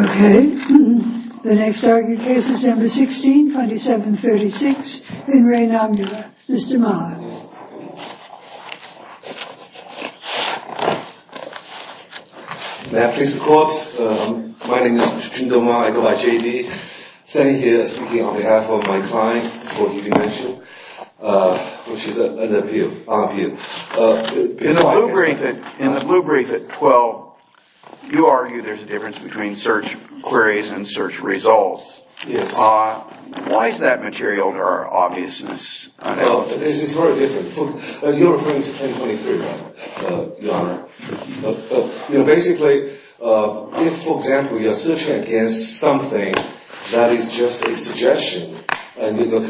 Okay, the next argued case is number 16, 2736, in Re Nomula. Mr. Mahler. May I please have the floor? My name is Jindal Mahler. I go by J.D. I'm standing here speaking on behalf of my client, before he's mentioned, which is an MP. In the blue brief at 12, you argue there's a difference between search queries and search results. Yes. Why is that material to our obviousness? It's very different. You're referring to 2023, right, Your Honor? Basically, if, for example, you're searching against something that is just a suggestion, your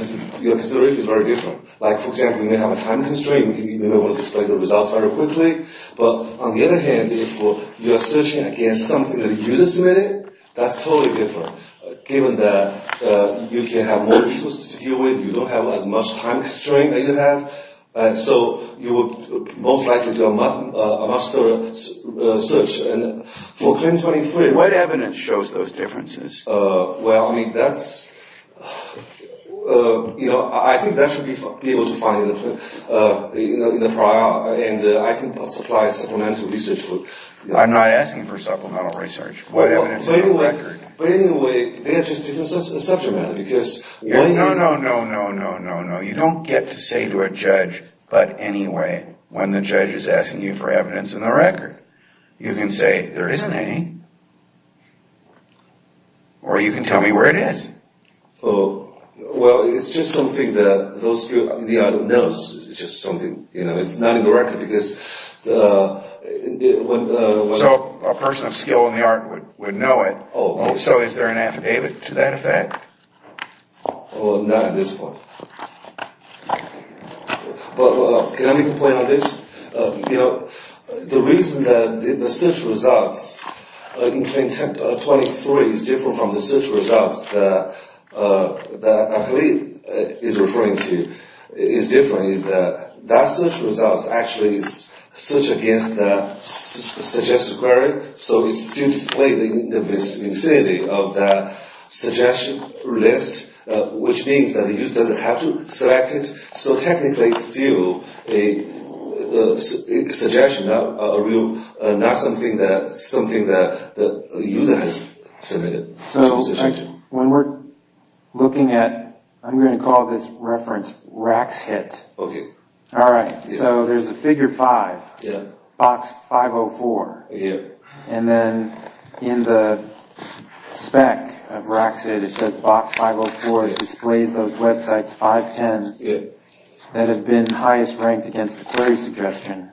consideration is very different. Like, for example, you may have a time constraint, you may want to display the results very quickly, but on the other hand, if you're searching against something that a user submitted, that's totally different, given that you can have more resources to deal with, you don't have as much time constraint that you have, and so you would most likely do a much better search. And for 2023... What evidence shows those differences? Well, I mean, that's... You know, I think that should be able to find in the prior, and I can supply supplemental research for... I'm not asking for supplemental research. But anyway, they are just different subject matter, because... No, no, no, no, no, no, no. You don't get to say to a judge, but anyway, when the judge is asking you for evidence in the record. You can say, there isn't any. Or you can tell me where it is. Oh, well, it's just something that those of you in the art knows. It's just something, you know, it's not in the record, because... So, a person of skill in the art would know it. Oh. So, is there an affidavit to that effect? Well, not at this point. But, can I make a point on this? You know, the reason that the search results in Claim 23 is different from the search results that I believe is referring to, is different, is that the search results actually search against the suggested query. So, it still displays the vicinity of the suggestion list, which means that the user doesn't have to select it. So, technically, it's still a suggestion, not something that the user has submitted. So, when we're looking at, I'm going to call this reference Raxhit. Okay. All right. So, there's a figure 5. Yeah. Box 504. Yeah. And then, in the spec of Raxhit, it says Box 504. It displays those websites, 510, that have been highest ranked against the query suggestion.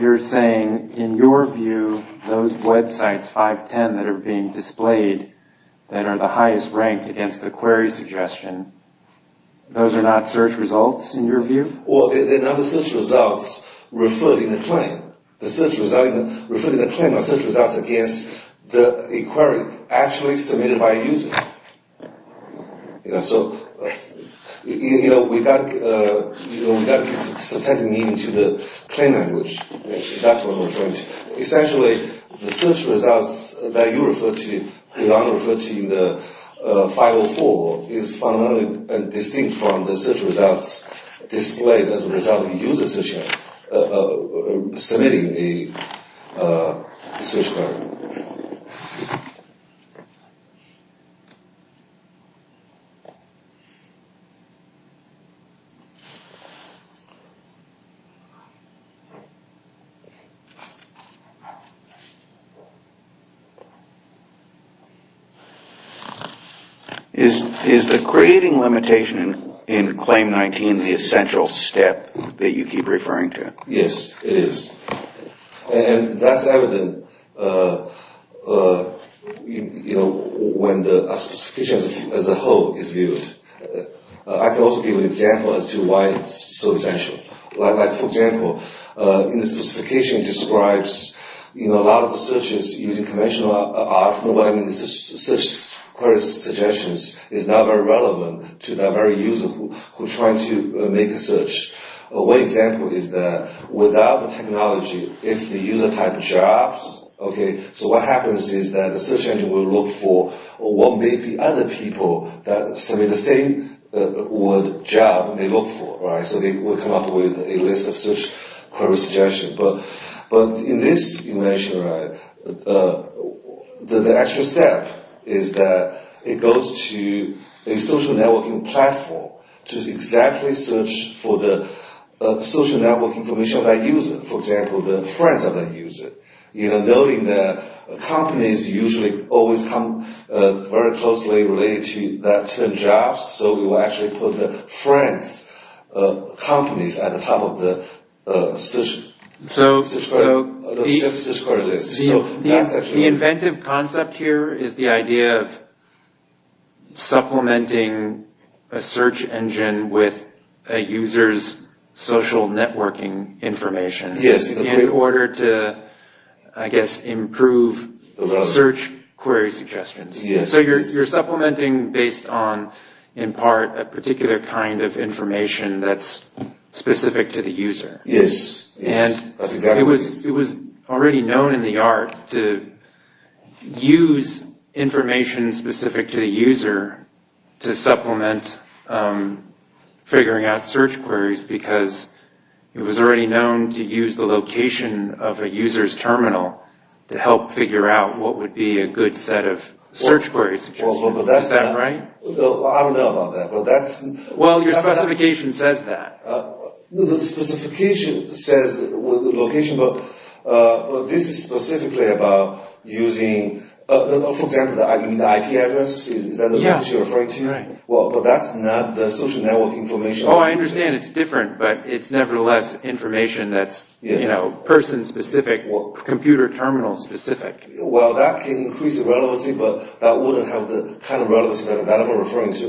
You're saying, in your view, those websites, 510, that are being displayed, that are the highest ranked against the query suggestion, those are not search results, in your view? Well, they're not the search results referred in the claim. The search results referred in the claim are search results against a query actually submitted by a user. You know, so, you know, we've got, you know, we've got substantive meaning to the claim language. That's what I'm referring to. Essentially, the search results that you refer to, that I'm referring to in the 504, is fundamentally distinct from the search results displayed as a result of the user submitting the search query. Is the creating limitation in Claim 19 the essential step that you keep referring to? Yes, it is. And that's evident, you know, when the specification as a whole is viewed. I can also give an example as to why it's so essential. Like, for example, in the specification it describes, you know, a lot of the searches using conventional search query suggestions is not very relevant to that very user who's trying to make a search. One example is that without the technology, if the user type jobs, okay, so what happens is that the search engine will look for what maybe other people that submit the same word job may look for, right? So they will come up with a list of search query suggestions. But in this, you mentioned, right, the extra step is that it goes to a social networking platform to exactly search for the social networking information of that user. For example, the friends of that user. You know, noting that companies usually always come very closely related to that term jobs, so we will actually put the friends of companies at the top of the search query list. The inventive concept here is the idea of supplementing a search engine with a user's social networking information in order to, I guess, improve the search query suggestions. So you're supplementing based on, in part, a particular kind of information that's specific to the user. Yes. And it was already known in the art to use information specific to the user to supplement figuring out search queries because it was already known to use the location of a user's terminal to help figure out what would be a good set of search query suggestions. Is that right? I don't know about that, but that's... Well, your specification says that. The specification says location, but this is specifically about using... For example, the IP address, is that what you're referring to? Right. Well, but that's not the social networking information. Oh, I understand it's different, but it's nevertheless information that's person-specific, computer terminal-specific. Well, that can increase the relevancy, but that wouldn't have the kind of relevancy that I'm referring to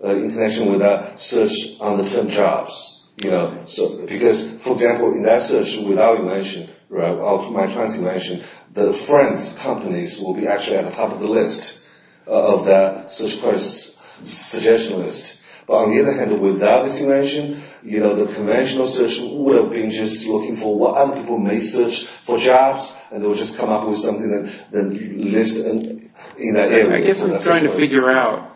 in connection with that search on the term jobs. Because, for example, in that search without invention, of my trans-invention, the friends' companies will be actually at the top of the list of that search query suggestion list. But on the other hand, without this invention, the conventional search would have been just looking for what other people may search for jobs, and they would just come up with something that you list in that area. I guess I'm trying to figure out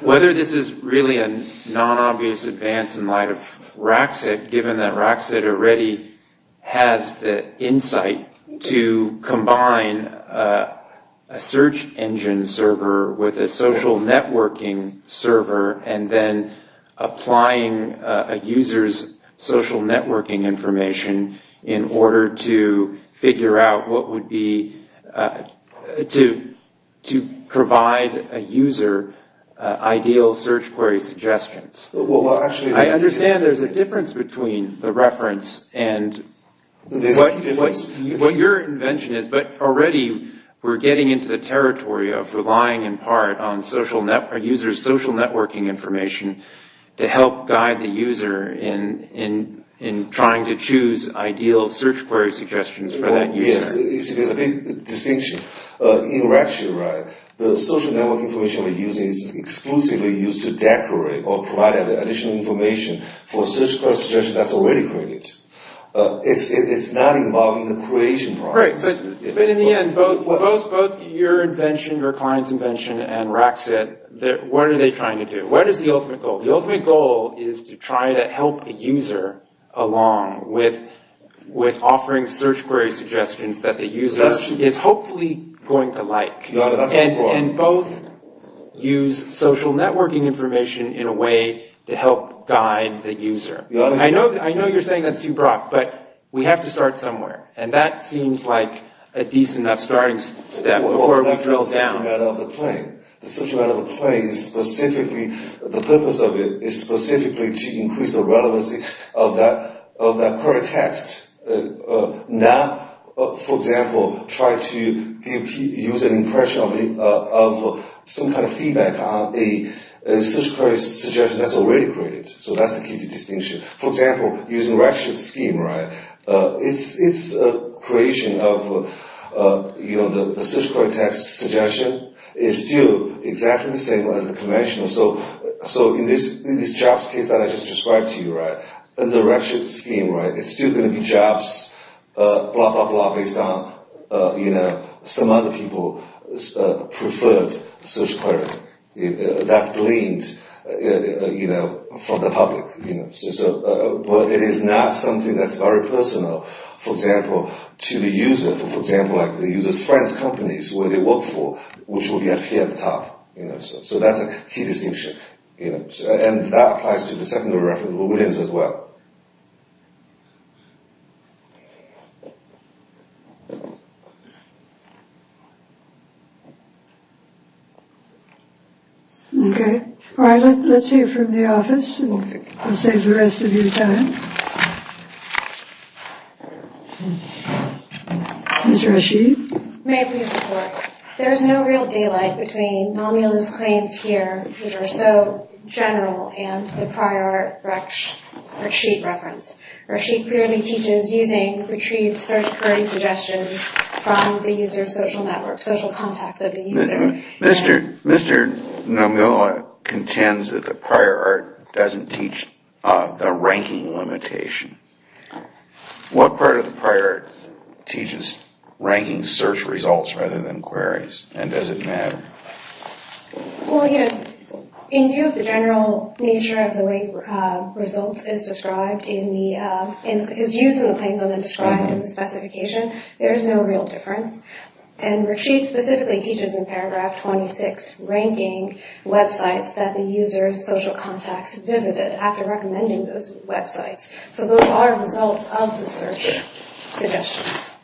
whether this is really a non-obvious advance in light of Rackset, given that Rackset already has the insight to combine a search engine server with a social networking server, and then applying a user's social networking information in order to figure out what would be, to provide a user ideal search query suggestions. I understand there's a difference between the reference and what your invention is, but already we're getting into the territory of relying in part on a user's social networking information to help guide the user in trying to choose ideal search query suggestions for that user. Yes, there's a big distinction. In Rackset, the social networking information we're using is exclusively used to decorate or provide additional information for a search query suggestion that's already created. It's not involving the creation process. Right, but in the end, both your invention, your client's invention, and Rackset, what are they trying to do? What is the ultimate goal? The ultimate goal is to try to help a user along with offering search query suggestions that the user is hopefully going to like, and both use social networking information in a way to help guide the user. I know you're saying that's too broad, but we have to start somewhere, and that seems like a decent enough starting step before we drill down. Well, that's not the subject matter of the claim. The purpose of the claim is specifically to increase the relevancy of that query text. Now, for example, try to use an impression of some kind of feedback on a search query suggestion that's already created. So that's the key to distinction. For example, using Rackset's scheme, it's a creation of the search query text suggestion. It's still exactly the same as the conventional. So in this jobs case that I just described to you, in the Rackset scheme, it's still going to be jobs, blah, blah, blah, based on some other people's preferred search query that's gleaned from the public. But it is not something that's very personal, for example, to the user. For example, the user's friends' companies, where they work for, which will be up here at the top. So that's a key distinction. And that applies to the secondary reference, Williams, as well. Okay. All right, let's hear from the office. I'll save the rest of your time. Ms. Rashid? May I please report? There is no real daylight between Nomiola's claims here, which are so general, and the prior Rashid reference. Rashid clearly teaches using retrieved search query suggestions from the user's social network, social contacts of the user. Mr. Nomiola contends that the prior art doesn't teach the ranking limitation. What part of the prior art teaches ranking search results rather than queries, and does it matter? Well, you know, in view of the general nature of the way results is described in the, is used in the claims and then described in the specification, there is no real difference. And Rashid specifically teaches in paragraph 26, ranking websites that the user's social contacts visited after recommending those websites. So those are results of the search suggestions.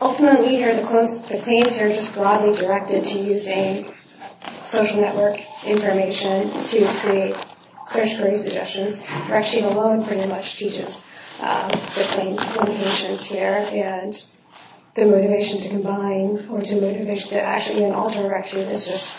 Ultimately here, the claims are just broadly directed to using social network information to create search query suggestions. Rashid alone pretty much teaches the claim limitations here, and the motivation to combine or the motivation to actually alter Rashid is just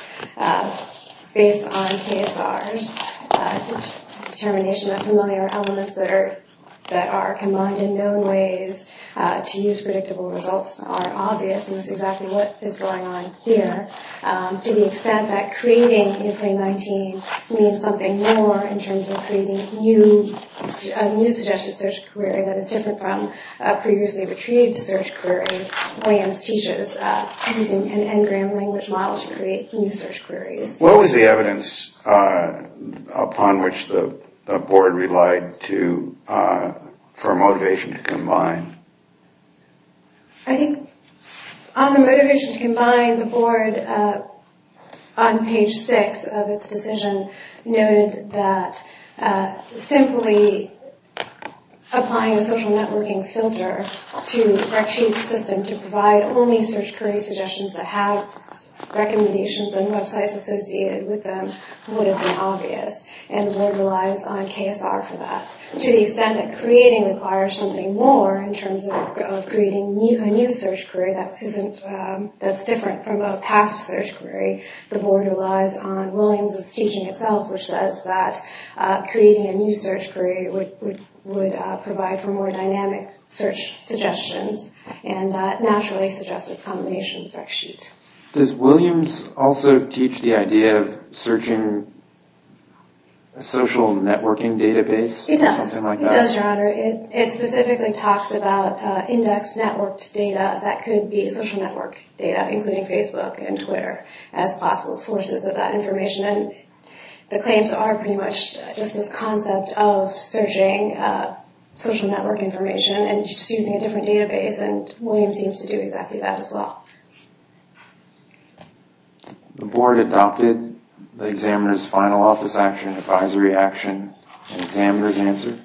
based on KSR's determination that familiar elements that are combined in known ways to use predictable results are obvious, and that's exactly what is going on here, to the extent that creating a claim 19 means something more in terms of creating a new suggested search query that is different from a previously retrieved search query. Williams teaches using an N-gram language model to create new search queries. What was the evidence upon which the board relied for motivation to combine? I think on the motivation to combine, the board, on page 6 of its decision, noted that simply applying a social networking filter to Rashid's system to provide only search query suggestions that have recommendations and websites associated with them would have been obvious, and the board relies on KSR for that, to the extent that creating requires something more in terms of creating a new search query that's different from a past search query. The board relies on Williams' teaching itself, which says that creating a new search query would provide for more dynamic search suggestions, and that naturally suggests its combination with Rashid. Does Williams also teach the idea of searching a social networking database? It does. It does, Your Honor. It specifically talks about indexed networked data that could be social network data, including Facebook and Twitter as possible sources of that information, and the claims are pretty much just this concept of searching social network information and just using a different database, and Williams seems to do exactly that as well. The board adopted the examiner's final office action advisory action and the examiner's answer?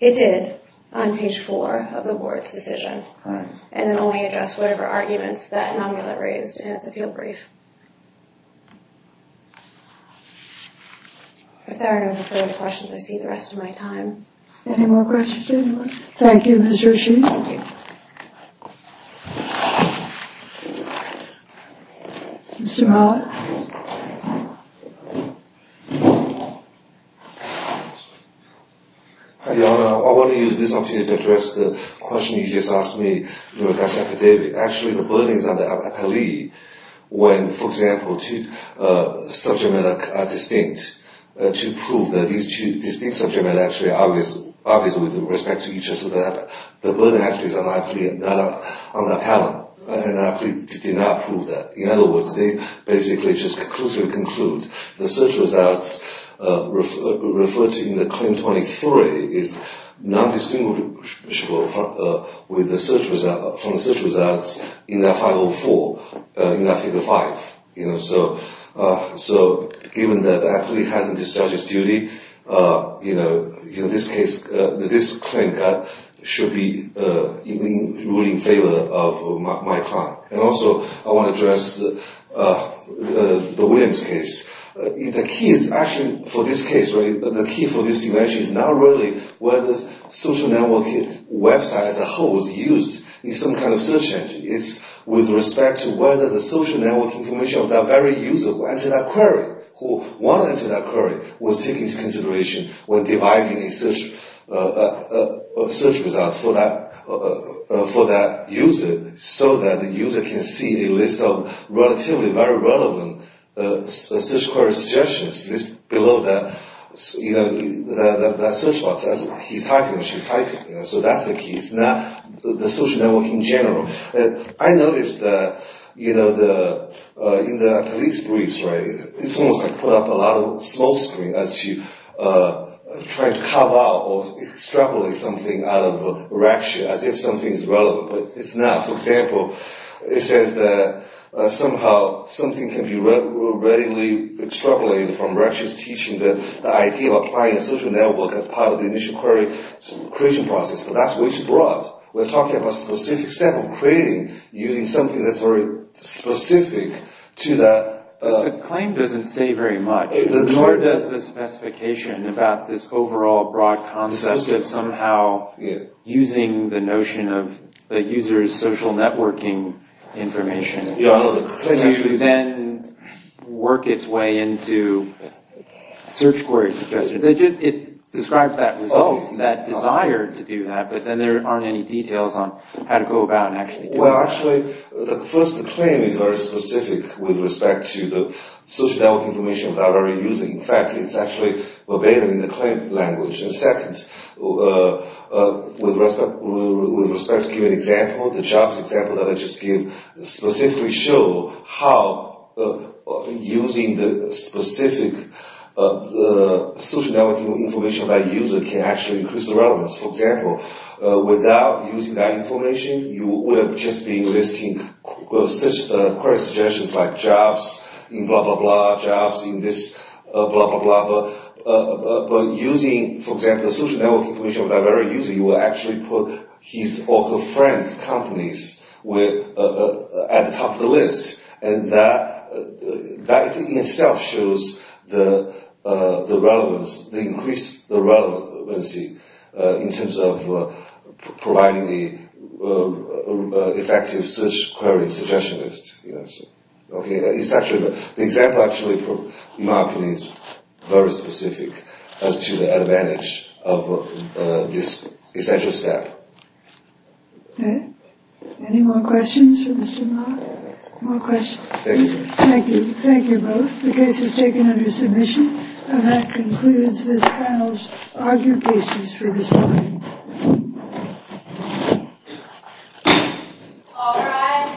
It did, on page four of the board's decision, and it only addressed whatever arguments that enumerator raised, and it's a field brief. If there are no further questions, I see the rest of my time. Any more questions, anyone? Thank you, Mr. Rashid. Thank you. Mr. Mawa? Hi, Your Honor. I want to use this opportunity to address the question you just asked me regarding the epidemic. Actually, the burden is on the appellee when, for example, two subject matter are distinct. To prove that these two distinct subject matter are actually obvious with respect to each other, the burden actually is on the appellant, and the appellate did not prove that. In other words, they basically just conclusively conclude the search results referred to in the claim 23 is not distinguishable from the search results in that 504, in that figure five. So even though the appellee hasn't discharged his duty, this claim should be ruling in favor of my client. And also, I want to address the Williams case. The key for this case, the key for this invention is not really whether the social networking website as a whole is used in some kind of search engine. It's with respect to whether the social networking information of that very user who entered that query, who wanted to enter that query, was taken into consideration when dividing the search results for that user so that the user can see a list of relatively very relevant search query suggestions below that search box, so that's the key. It's not the social networking in general. I noticed that in the police briefs, it's almost like put up a lot of small screen as to try to carve out or extrapolate something out of Raksha as if something is relevant, but it's not. For example, it says that somehow something can be readily extrapolated from Raksha's teaching, the idea of applying a social network as part of the initial query creation process, but that's way too broad. We're talking about a specific step of creating using something that's very specific to that. The claim doesn't say very much, nor does the specification about this overall broad concept of somehow using the notion of the user's social networking information. Do you then work its way into search query suggestions? It describes that result, that desire to do that, but then there aren't any details on how to go about and actually do it. Well, actually, first, the claim is very specific with respect to the social networking information that we're using. In fact, it's actually obeyed in the claim language. Second, with respect to an example, the jobs example that I just gave specifically show how using the specific social networking information by a user can actually increase the relevance. For example, without using that information, you would have just been listing query suggestions like jobs in blah, blah, blah, but using, for example, the social networking information of that very user, you will actually put his or her friends' companies at the top of the list, and that in itself shows the relevance, the increased relevancy in terms of providing the effective search query suggestion list. The example actually, in my opinion, is very specific as to the advantage of this essential step. Okay. Any more questions for Mr. Ma? More questions? Thank you. Thank you. Thank you both. The case is taken under submission, and that concludes this panel's argue cases for this morning.